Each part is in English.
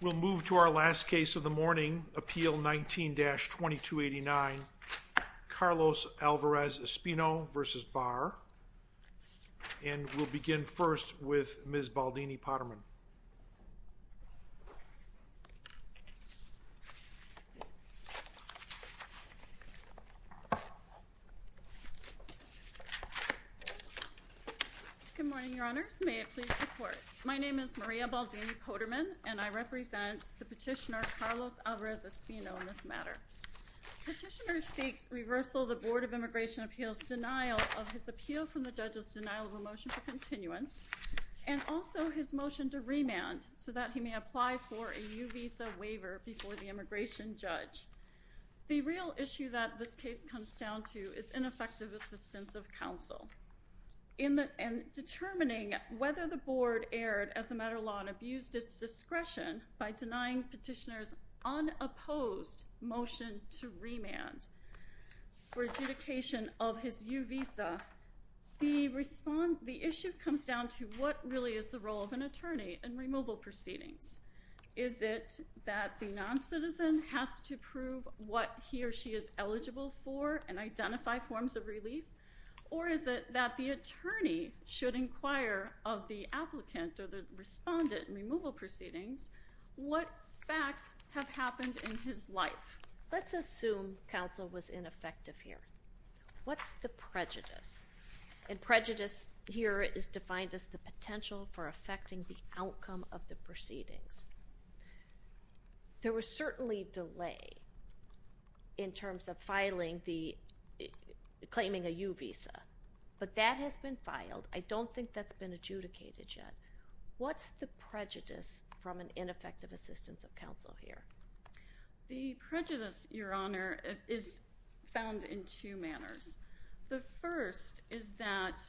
We'll move to our last case of the morning, Appeal 19-2289, Carlos Alvarez-Espino v. Barr. And we'll begin first with Ms. Baldini-Potterman. Good morning, your honors. May it please the court. My name is Maria Baldini-Potterman, and I represent the petitioner Carlos Alvarez-Espino in this matter. Petitioner seeks reversal of the Board of Immigration Appeals' denial of his appeal from the judge's denial of a motion for continuance, and also his motion to remand so that he may apply for a new visa waiver before the immigration judge. The real issue that this case comes down to is ineffective assistance of counsel. In determining whether the board erred as a matter of law and abused its discretion by denying petitioner's unopposed motion to remand for adjudication of his new visa, the issue comes down to what really is the role of an attorney in removal proceedings. Is it that the non-citizen has to prove what he or she is eligible for and identify forms of relief? Or is it that the attorney should inquire of the applicant or the respondent in removal proceedings what facts have happened in his life? Let's assume counsel was ineffective here. What's the prejudice? And prejudice here is defined as the potential for affecting the outcome of the proceedings. There was certainly delay in terms of filing the—claiming a U visa. But that has been filed. I don't think that's been adjudicated yet. What's the prejudice from an ineffective assistance of counsel here? The prejudice, Your Honor, is found in two manners. The first is that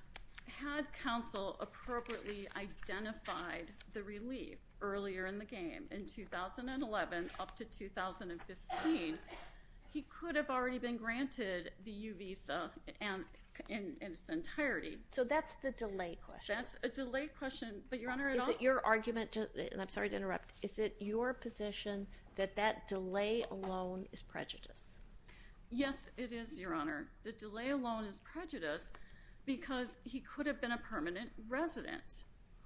had counsel appropriately identified the relief earlier in the game, in 2011 up to 2015, he could have already been granted the U visa in its entirety. So that's the delay question. That's a delay question, but Your Honor— Is it your argument—I'm sorry to interrupt—is it your position that that delay alone is prejudice? Yes, it is, Your Honor. The delay alone is prejudice because he could have been a permanent resident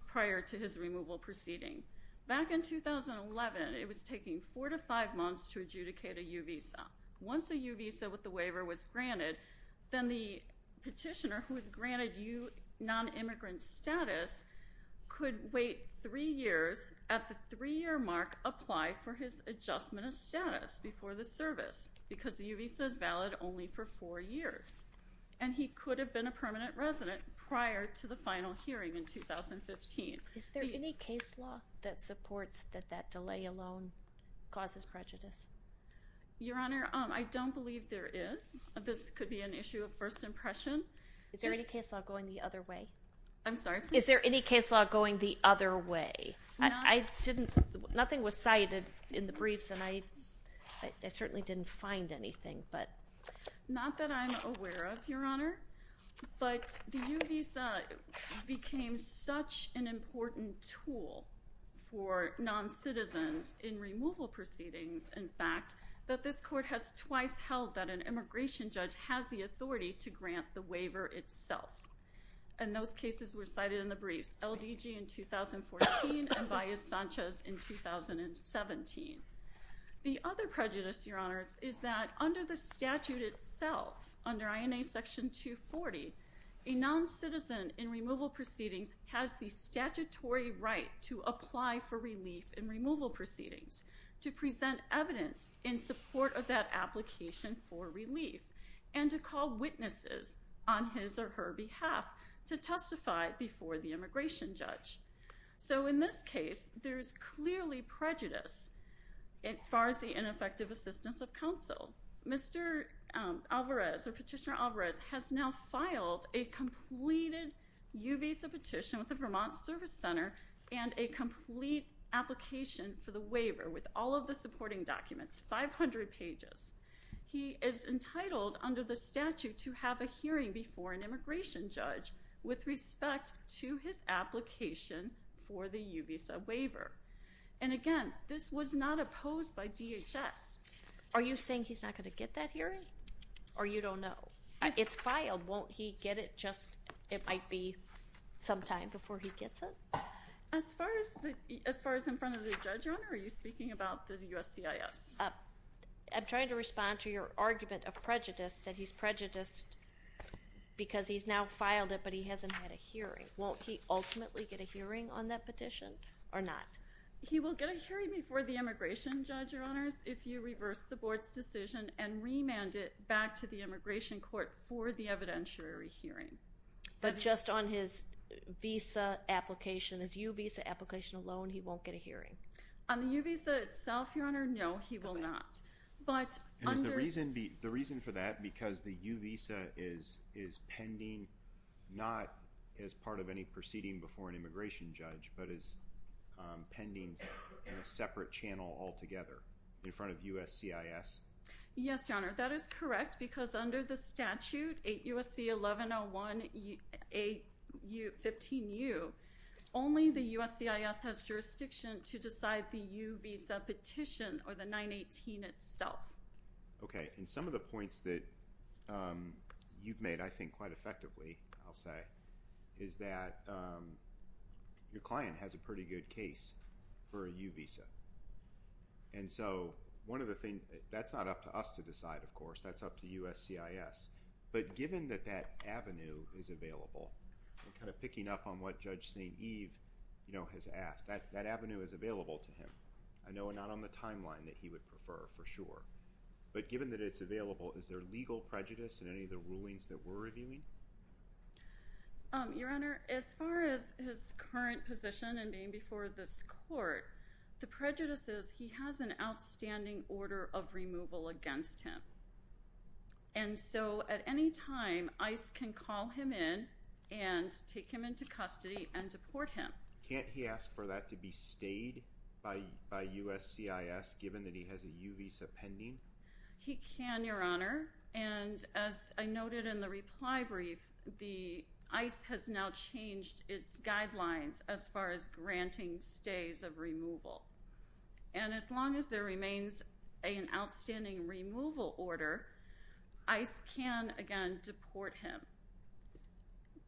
prior to his removal proceeding. Back in 2011, it was taking four to five months to adjudicate a U visa. Once a U visa with the waiver was granted, then the petitioner who was granted U non-immigrant status could wait three years at the three-year mark, apply for his adjustment of status before the service because the U visa is valid only for four years. And he could have been a permanent resident prior to the final hearing in 2015. Is there any case law that supports that that delay alone causes prejudice? Your Honor, I don't believe there is. This could be an issue of first impression. Is there any case law going the other way? I'm sorry? Is there any case law going the other way? I didn't—nothing was cited in the briefs and I certainly didn't find anything, but— Not that I'm aware of, Your Honor. But the U visa became such an important tool for non-citizens in removal proceedings, in fact, that this court has twice held that an immigration judge has the authority to grant the waiver itself. And those cases were cited in the briefs—LDG in 2014 and Baez-Sanchez in 2017. The other prejudice, Your Honor, is that under the statute itself, under INA Section 240, a non-citizen in removal proceedings has the statutory right to apply for relief in removal proceedings, to present evidence in support of that application for relief, and to call witnesses on his or her behalf to testify before the immigration judge. So in this case, there's clearly prejudice as far as the ineffective assistance of counsel. Mr. Alvarez, or Petitioner Alvarez, has now filed a completed U visa petition with the Vermont Service Center and a complete application for the waiver with all of the supporting documents, 500 pages. He is entitled under the statute to have a hearing before an immigration judge with respect to his application for the U visa waiver. And again, this was not opposed by DHS. Are you saying he's not going to get that hearing? Or you don't know? It's filed. Won't he get it just—it might be sometime before he gets it? As far as in front of the judge, Your Honor, are you speaking about the USCIS? I'm trying to respond to your argument of prejudice, that he's prejudiced because he's now filed it, but he hasn't had a hearing. Won't he ultimately get a hearing on that petition or not? He will get a hearing before the immigration judge, Your Honors, if you reverse the board's decision and remand it back to the immigration court for the evidentiary hearing. But just on his visa application, his U visa application alone, he won't get a hearing? On the U visa itself, Your Honor, no, he will not. And is the reason for that because the U visa is pending, not as part of any proceeding before an immigration judge, but is pending in a separate channel altogether in front of USCIS? Yes, Your Honor, that is correct because under the statute, 8 U.S.C. 1101-15U, only the USCIS has jurisdiction to decide the U visa petition or the 918 itself. Okay, and some of the points that you've made, I think, quite effectively, I'll say, is that your client has a pretty good case for a U visa. And so, one of the things, that's not up to us to decide, of course, that's up to USCIS. But given that that avenue is available, and kind of picking up on what Judge St. Eve has asked, that avenue is available to him. I know we're not on the timeline that he would prefer, for sure. But given that it's available, is there legal prejudice in any of the rulings that we're reviewing? Your Honor, as far as his current position and being before this court, the prejudice is he has an outstanding order of removal against him. And so, at any time, ICE can call him in and take him into custody and deport him. Can't he ask for that to be stayed by USCIS, given that he has a U visa pending? He can, Your Honor. And as I noted in the reply brief, the ICE has now changed its guidelines as far as granting stays of removal. And as long as there remains an outstanding removal order, ICE can, again, deport him.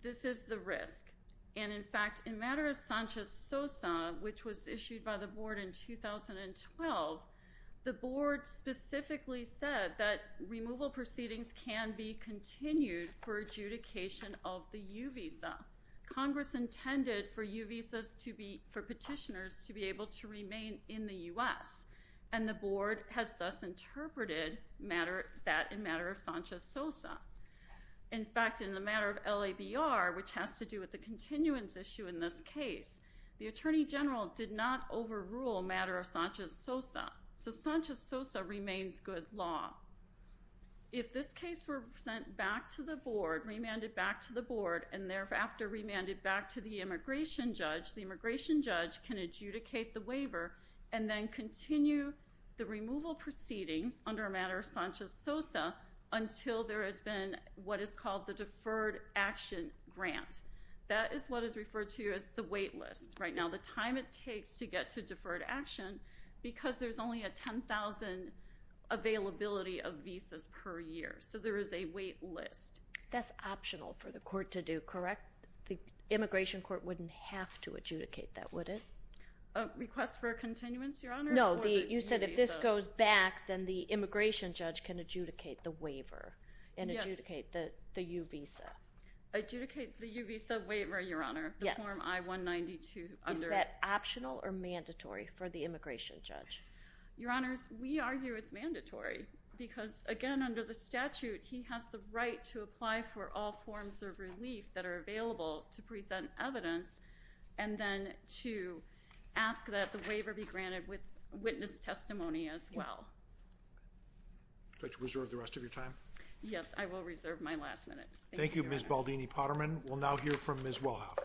This is the risk. And in fact, in matter of Sanchez-Sosa, which was issued by the Board in 2012, the Board specifically said that removal proceedings can be continued for adjudication of the U visa. Congress intended for U visas for petitioners to be able to remain in the U.S., and the Board has thus interpreted that in matter of Sanchez-Sosa. In fact, in the matter of LABR, which has to do with the continuance issue in this case, the Attorney General did not overrule matter of Sanchez-Sosa. So Sanchez-Sosa remains good law. If this case were sent back to the Board, remanded back to the Board, and thereafter remanded back to the immigration judge, the immigration judge can adjudicate the waiver and then continue the removal proceedings under matter of Sanchez-Sosa until there has been what is called the deferred action grant. That is what is referred to as the wait list. Right now, the time it takes to get to deferred action, because there's only a 10,000 availability of visas per year. So there is a wait list. That's optional for the court to do, correct? The immigration court wouldn't have to adjudicate that, would it? A request for a continuance, Your Honor? No, you said if this goes back, then the immigration judge can adjudicate the waiver and adjudicate the U visa. Adjudicate the U visa waiver, Your Honor, the form I-192. Is that optional or mandatory for the immigration judge? Your Honors, we argue it's mandatory because, again, under the statute, he has the right to apply for all forms of relief that are available to present evidence and then to ask that the waiver be granted with witness testimony as well. Would you like to reserve the rest of your time? Yes, I will reserve my last minute. Thank you, Ms. Baldini-Potterman. We'll now hear from Ms. Wellhoff.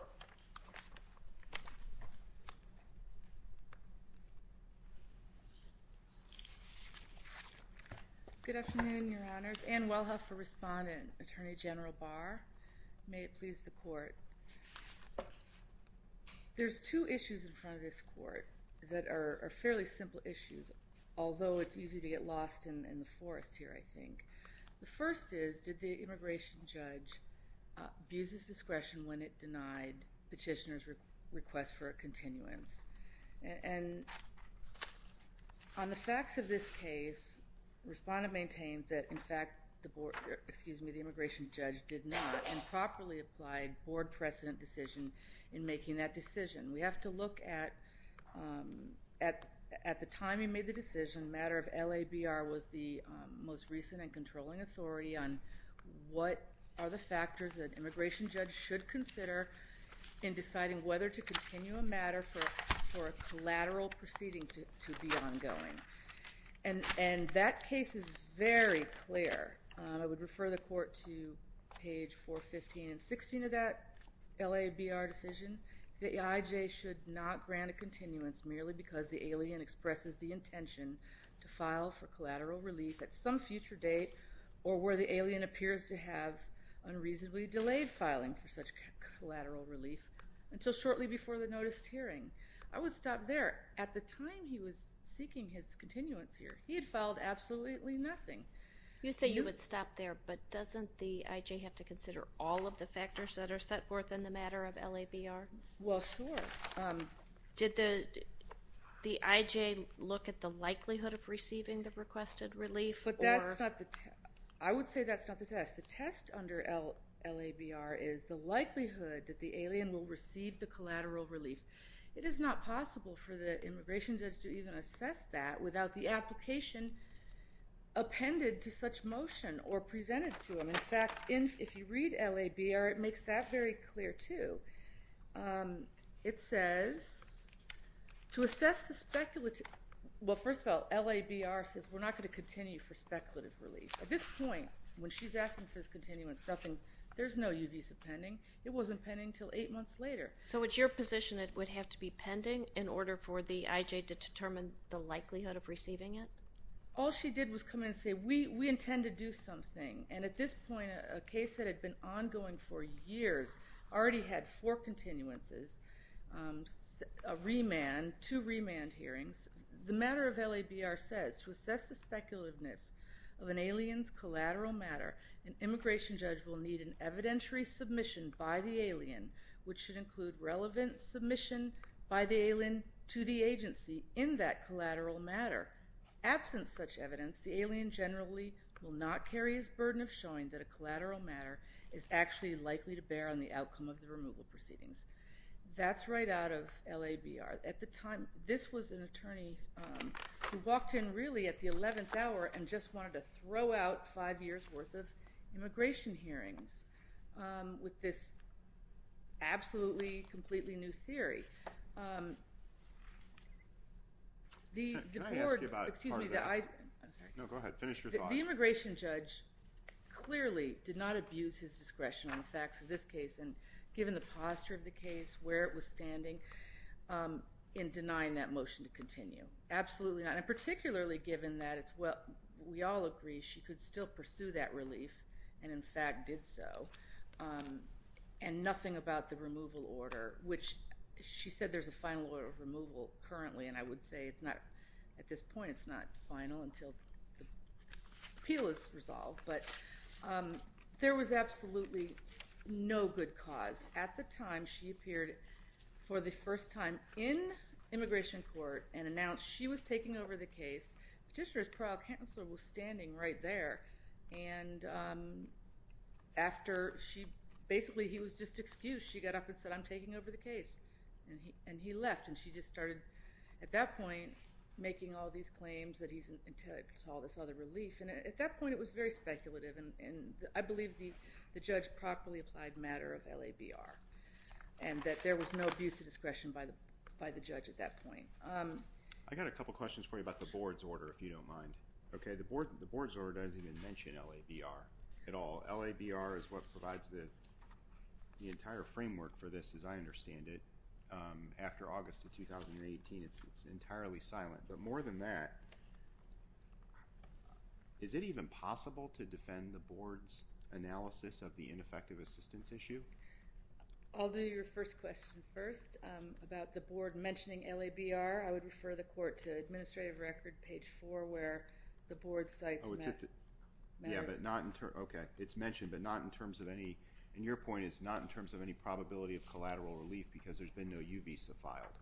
Good afternoon, Your Honors. Ann Wellhoff for respondent, Attorney General Barr. May it please the court. There's two issues in front of this court that are fairly simple issues, although it's easy to get lost in the forest here, I think. The first is, did the immigration judge abuse his discretion when it denied petitioner's request for a continuance? And on the facts of this case, respondent maintains that, in fact, the immigration judge did not improperly apply board precedent decision in making that decision. We have to look at, at the time he made the decision, matter of LABR was the most recent and controlling authority on what are the factors that immigration judge should consider in deciding whether to continue a matter for a collateral proceeding to be ongoing. And that case is very clear. I would refer the court to page 415 and 16 of that LABR decision. The AIJ should not grant a continuance merely because the alien expresses the intention to file for collateral relief at some future date or where the alien appears to have unreasonably delayed filing for such collateral relief until shortly before the noticed hearing. I would stop there. At the time he was seeking his continuance here, he had filed absolutely nothing. You say you would stop there, but doesn't the AIJ have to consider all of the factors that are set forth in the matter of LABR? Well, sure. Did the AIJ look at the likelihood of receiving the requested relief? I would say that's not the test. The test under LABR is the likelihood that the alien will receive the collateral relief. It is not possible for the immigration judge to even assess that without the application appended to such motion or presented to him. In fact, if you read LABR, it makes that very clear too. It says, to assess the speculative, well, first of all, LABR says we're not going to continue for speculative relief. At this point, when she's asking for his continuance, nothing, there's no U visa pending. It wasn't pending until eight months later. So it's your position it would have to be pending in order for the AIJ to determine the likelihood of receiving it? All she did was come in and say, we intend to do something. And at this point, a case that had been ongoing for years already had four continuances. A remand, two remand hearings. The matter of LABR says, to assess the speculativeness of an alien's collateral matter, an immigration judge will need an evidentiary submission by the alien which should include relevant submission by the alien to the agency in that collateral matter. Absent such evidence, the alien generally will not carry his burden of showing that a collateral matter is actually likely to bear on the outcome of the removal proceedings. That's right out of LABR. At the time, this was an attorney who walked in really at the 11th hour and just wanted to throw out five years' worth of immigration hearings with this absolutely completely new theory. Can I ask you about part of that? No, go ahead. Finish your thought. The immigration judge clearly did not abuse his discretion on the facts of this case and given the posture of the case, where it was standing in denying that motion to continue. Absolutely not. And particularly given that it's what we all agree she could still pursue that relief and in fact did so. And nothing about the removal order which she said there's a final order of removal currently and I would say it's not at this point, it's not final until the appeal is resolved. But there was absolutely no good cause. At the time, she appeared for the first time in immigration court and announced she was taking over the case. Petitioner's parole counselor was standing right there and basically he was just excused. She got up and said, I'm taking over the case. And he left and she just started at that point making all these claims that he's entitled to all this other relief. At that point, it was very speculative. I believe the judge properly applied matter of LABR and that there was no abuse of discretion by the judge at that point. I got a couple of questions for you about the board's order if you don't mind. The board's order doesn't even mention LABR at all. LABR is what provides the entire framework for this as I understand it. After August of 2018, it's entirely silent. But more than that, is it even possible to defend the board's analysis of the ineffective assistance issue? I'll do your first question first about the board mentioning LABR. I would refer the court to administrative record page 4 where the board's sites met. It's mentioned but not in terms of any, and your point is not in terms of any probability of collateral relief because there's been no U visa filed.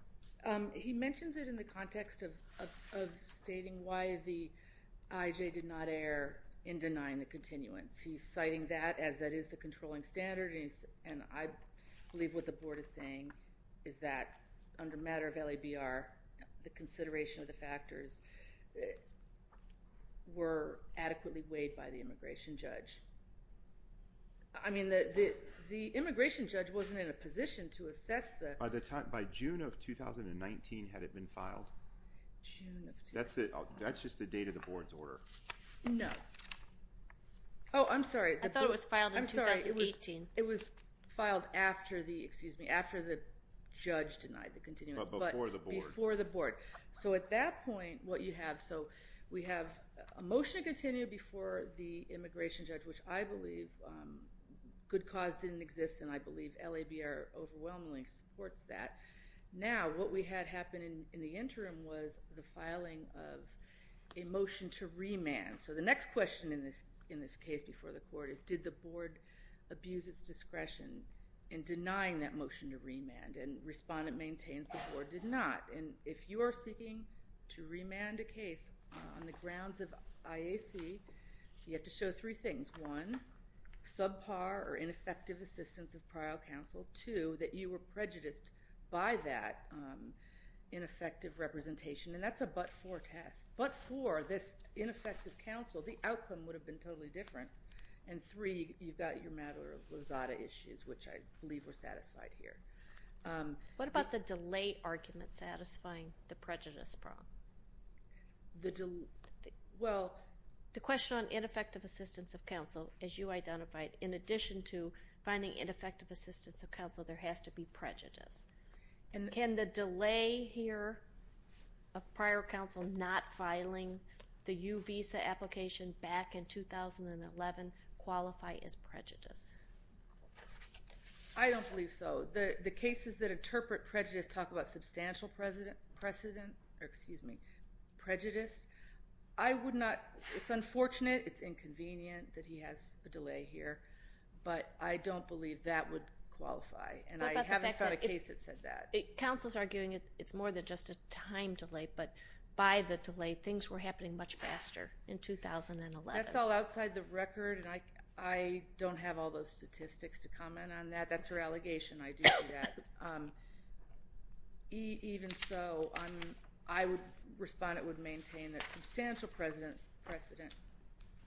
He mentions it in the context of stating why the IJ did not err in denying the continuance. He's citing that as that is the controlling standard and I believe what the board is saying is that under matter of LABR, the consideration of the factors were adequately weighed by the immigration judge. I mean, the immigration judge wasn't in a position to assess the... By June of 2019, had it been filed? That's just the date of the board's order. No. Oh, I'm sorry. I thought it was filed in 2018. It was filed after the, excuse me, after the judge denied the continuance. But before the board. Before the board. So at that point, what you have, so we have a motion to continue before the immigration judge, which I believe good cause didn't exist and I believe LABR overwhelmingly supports that. Now, what we had happen in the interim was the filing of a motion to remand. So the next question in this case before the court is did the board abuse its discretion in denying that motion to remand? And respondent maintains the board did not. And if you are seeking to remand a case on the grounds of IAC, you have to show three things. One, subpar or ineffective assistance of prior counsel. Two, that you were prejudiced by that ineffective representation. And that's a but-for test. But for this ineffective counsel, the outcome would have been totally different. And three, you've got your matter of Lizada issues, which I believe were satisfied here. What about the delay argument satisfying the prejudice problem? Well... The question on ineffective assistance of counsel, as you identified, in addition to finding ineffective assistance of counsel, there has to be prejudice. Can the delay here of prior counsel not filing the U visa application back in 2011 qualify as prejudice? I don't believe so. The cases that interpret prejudice talk about substantial precedent... Or excuse me, prejudice. I would not... It's unfortunate, it's inconvenient that he has a delay here. But I don't believe that would qualify. And I haven't found a case that said that. Counsel's arguing it's more than just a time delay. But by the delay, things were happening much faster in 2011. That's all outside the record. And I don't have all those statistics to comment on that. That's her allegation. I do see that. Even so, I would respond... It would maintain that substantial precedent...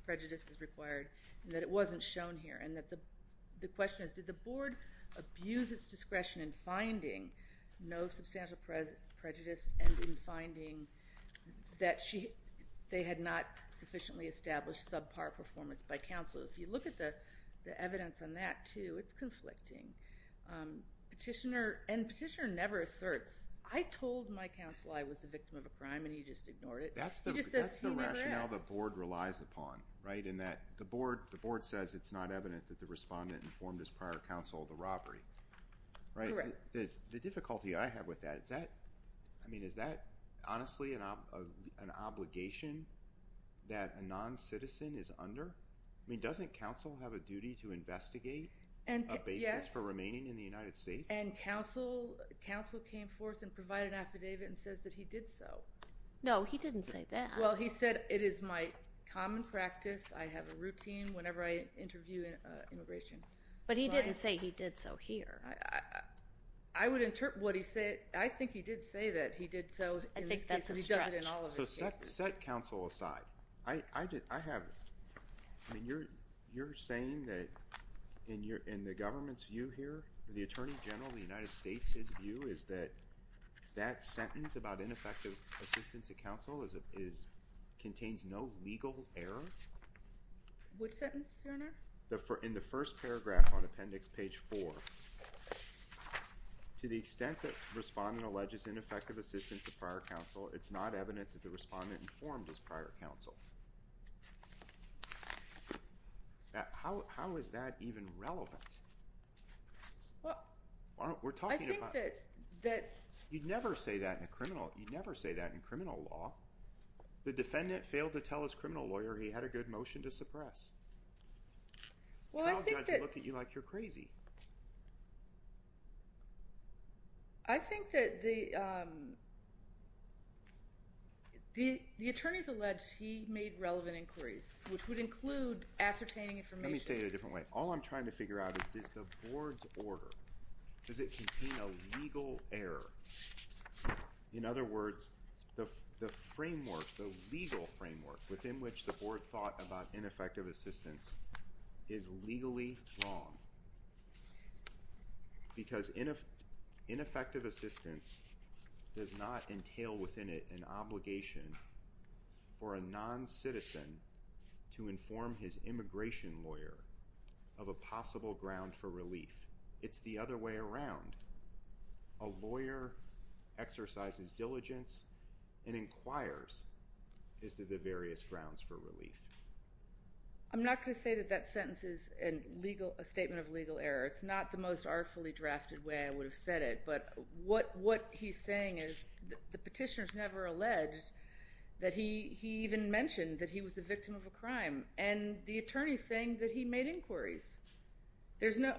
Prejudice is required. And that it wasn't shown here. And that the question is, did the board abuse its discretion in finding no substantial prejudice and in finding that she... They had not sufficiently established subpar performance by counsel? If you look at the evidence on that too, it's conflicting. Petitioner... And petitioner never asserts. I told my counsel I was the victim of a crime and he just ignored it. He just says he never asked. That's the rationale the board relies upon. The board says it's not evident that the respondent informed his prior counsel of the robbery. Correct. The difficulty I have with that, is that honestly an obligation that a non-citizen is under? Doesn't counsel have a duty to investigate a basis for remaining in the United States? And counsel came forth and provided an affidavit and says that he did so. No, he didn't say that. Well, he said it is my common practice. I have a routine whenever I interview immigration. But he didn't say he did so here. I would interpret what he said. I think he did say that he did so. I think that's a stretch. So set counsel aside. I have... You're saying that in the government's view here, the Attorney General of the United States, his view is that that sentence about ineffective assistance of counsel contains no legal error? Which sentence, Your Honor? In the first paragraph on appendix page 4. To the extent that respondent alleges ineffective assistance of prior counsel, it's not evident that the respondent informed his prior counsel. How is that even relevant? We're talking about... I think that... You'd never say that in a criminal... You'd never say that in criminal law. The defendant failed to tell his criminal lawyer he had a good motion to suppress. Well, I think that... A trial judge would look at you like you're crazy. I think that the... The attorneys allege he made relevant inquiries, which would include ascertaining information. Let me say it a different way. All I'm trying to figure out is, does the board's order, does it contain a legal error? In other words, the framework, the legal framework within which the board thought about ineffective assistance is legally wrong. Because ineffective assistance does not entail within it an obligation for a non-citizen to inform his immigration lawyer of a possible ground for relief. It's the other way around. A lawyer exercises diligence and inquires as to the various grounds for relief. I'm not going to say that that sentence is a statement of legal error. It's not the most artfully drafted way I would have said it, but what he's saying is... The petitioner's never alleged that he even mentioned that he was the victim of a crime, and the attorney's saying that he made inquiries. There's no...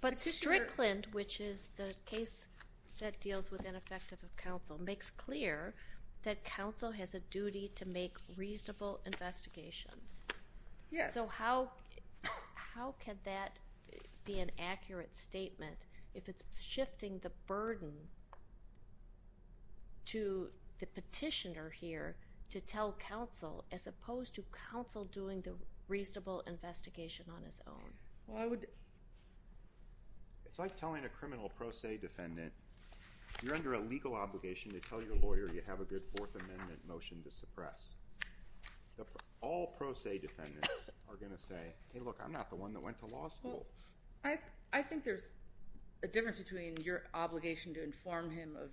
But Strickland, which is the case that deals with ineffective counsel, makes clear that counsel has a duty to make reasonable investigations. Yes. So how can that be an accurate statement if it's shifting the burden... to the petitioner here to tell counsel as opposed to counsel doing the reasonable investigation on his own? Well, I would... It's like telling a criminal pro se defendant, you're under a legal obligation to tell your lawyer you have a good Fourth Amendment motion to suppress. All pro se defendants are going to say, hey, look, I'm not the one that went to law school. I think there's a difference between your obligation to inform him of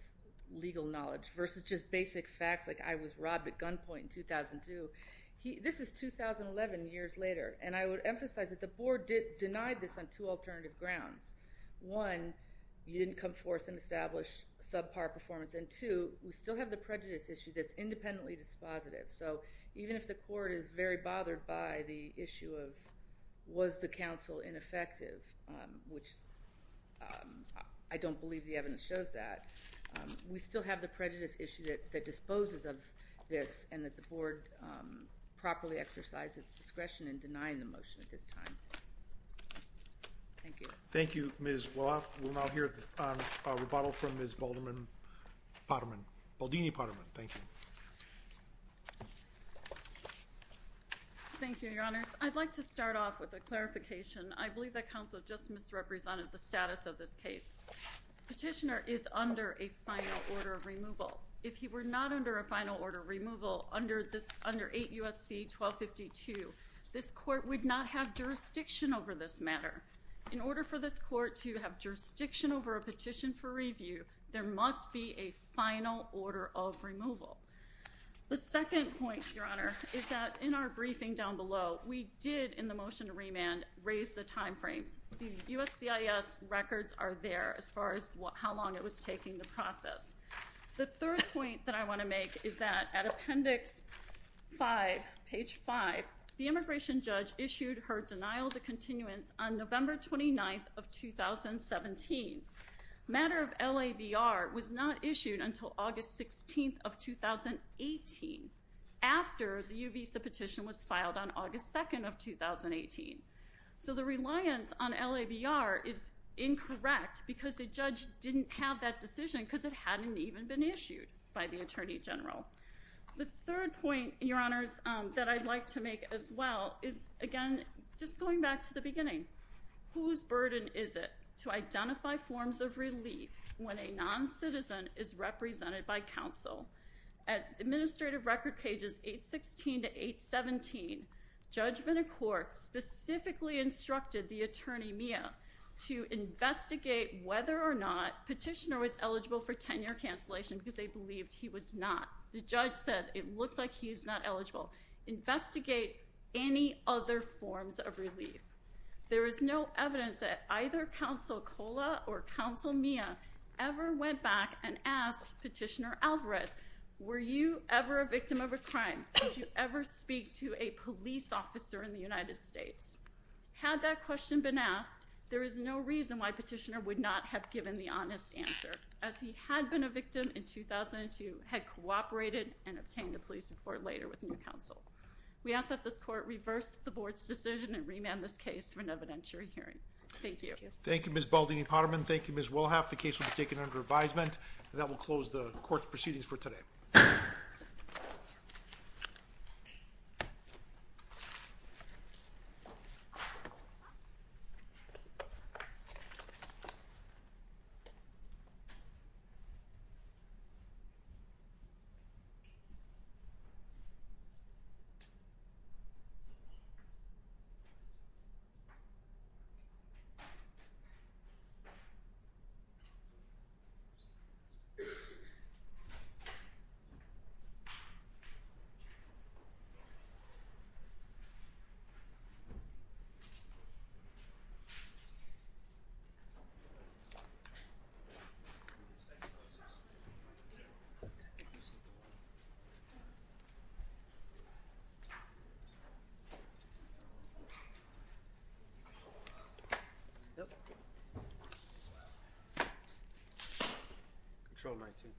legal knowledge versus just basic facts like I was robbed at gunpoint in 2002. This is 2011 years later, and I would emphasize that the board denied this on two alternative grounds. One, you didn't come forth and establish subpar performance, and two, we still have the prejudice issue that's independently dispositive. So even if the court is very bothered by the issue of was the counsel ineffective, which I don't believe the evidence shows that, we still have the prejudice issue that disposes of this and that the board properly exercised its discretion in denying the motion at this time. Thank you. Thank you, Ms. Walloff. We'll now hear a rebuttal from Ms. Baldini-Potterman. Thank you. Thank you, Your Honors. I'd like to start off with a clarification. I believe that counsel just misrepresented the status of this case. Petitioner is under a final order of removal. If he were not under a final order of removal under 8 U.S.C. 1252, this court would not have jurisdiction over this matter. In order for this court to have jurisdiction over a petition for review, there must be a final order of removal. The second point, Your Honor, is that in our briefing down below, we did, in the motion to remand, raise the time frames. The USCIS records are there as far as how long it was taking the process. The third point that I want to make is that at Appendix 5, page 5, the immigration judge issued her denial of the continuance on November 29th of 2017. Matter of LAVR was not issued until August 16th of 2018, after the U-Visa petition was filed on August 2nd of 2018. So the reliance on LAVR is incorrect because the judge didn't have that decision because it hadn't even been issued by the Attorney General. The third point, Your Honors, that I'd like to make as well is, again, just going back to the beginning. Whose burden is it to identify forms of relief when a non-citizen is represented by counsel? At Administrative Record pages 816 to 817, Judge Vina Court specifically instructed the attorney, Mia, to investigate whether or not Petitioner was eligible for tenure cancellation because they believed he was not. The judge said, it looks like he's not eligible. Investigate any other forms of relief. There is no evidence that either Counsel Cola or Counsel Mia ever went back and asked Petitioner Alvarez, were you ever a victim of a crime? Did you ever speak to a police officer in the United States? Had that question been asked, there is no reason why Petitioner would not have given the honest answer, as he had been a victim in 2002, had cooperated and obtained a police report later with new counsel. We ask that this Court reverse the Board's decision and remand this case for an evidentiary hearing. Thank you. Thank you, Ms. Baldini-Potterman. Thank you, Ms. Wilhaff. The case will be taken under advisement. That will close the Court's proceedings for today. Thank you. Thank you.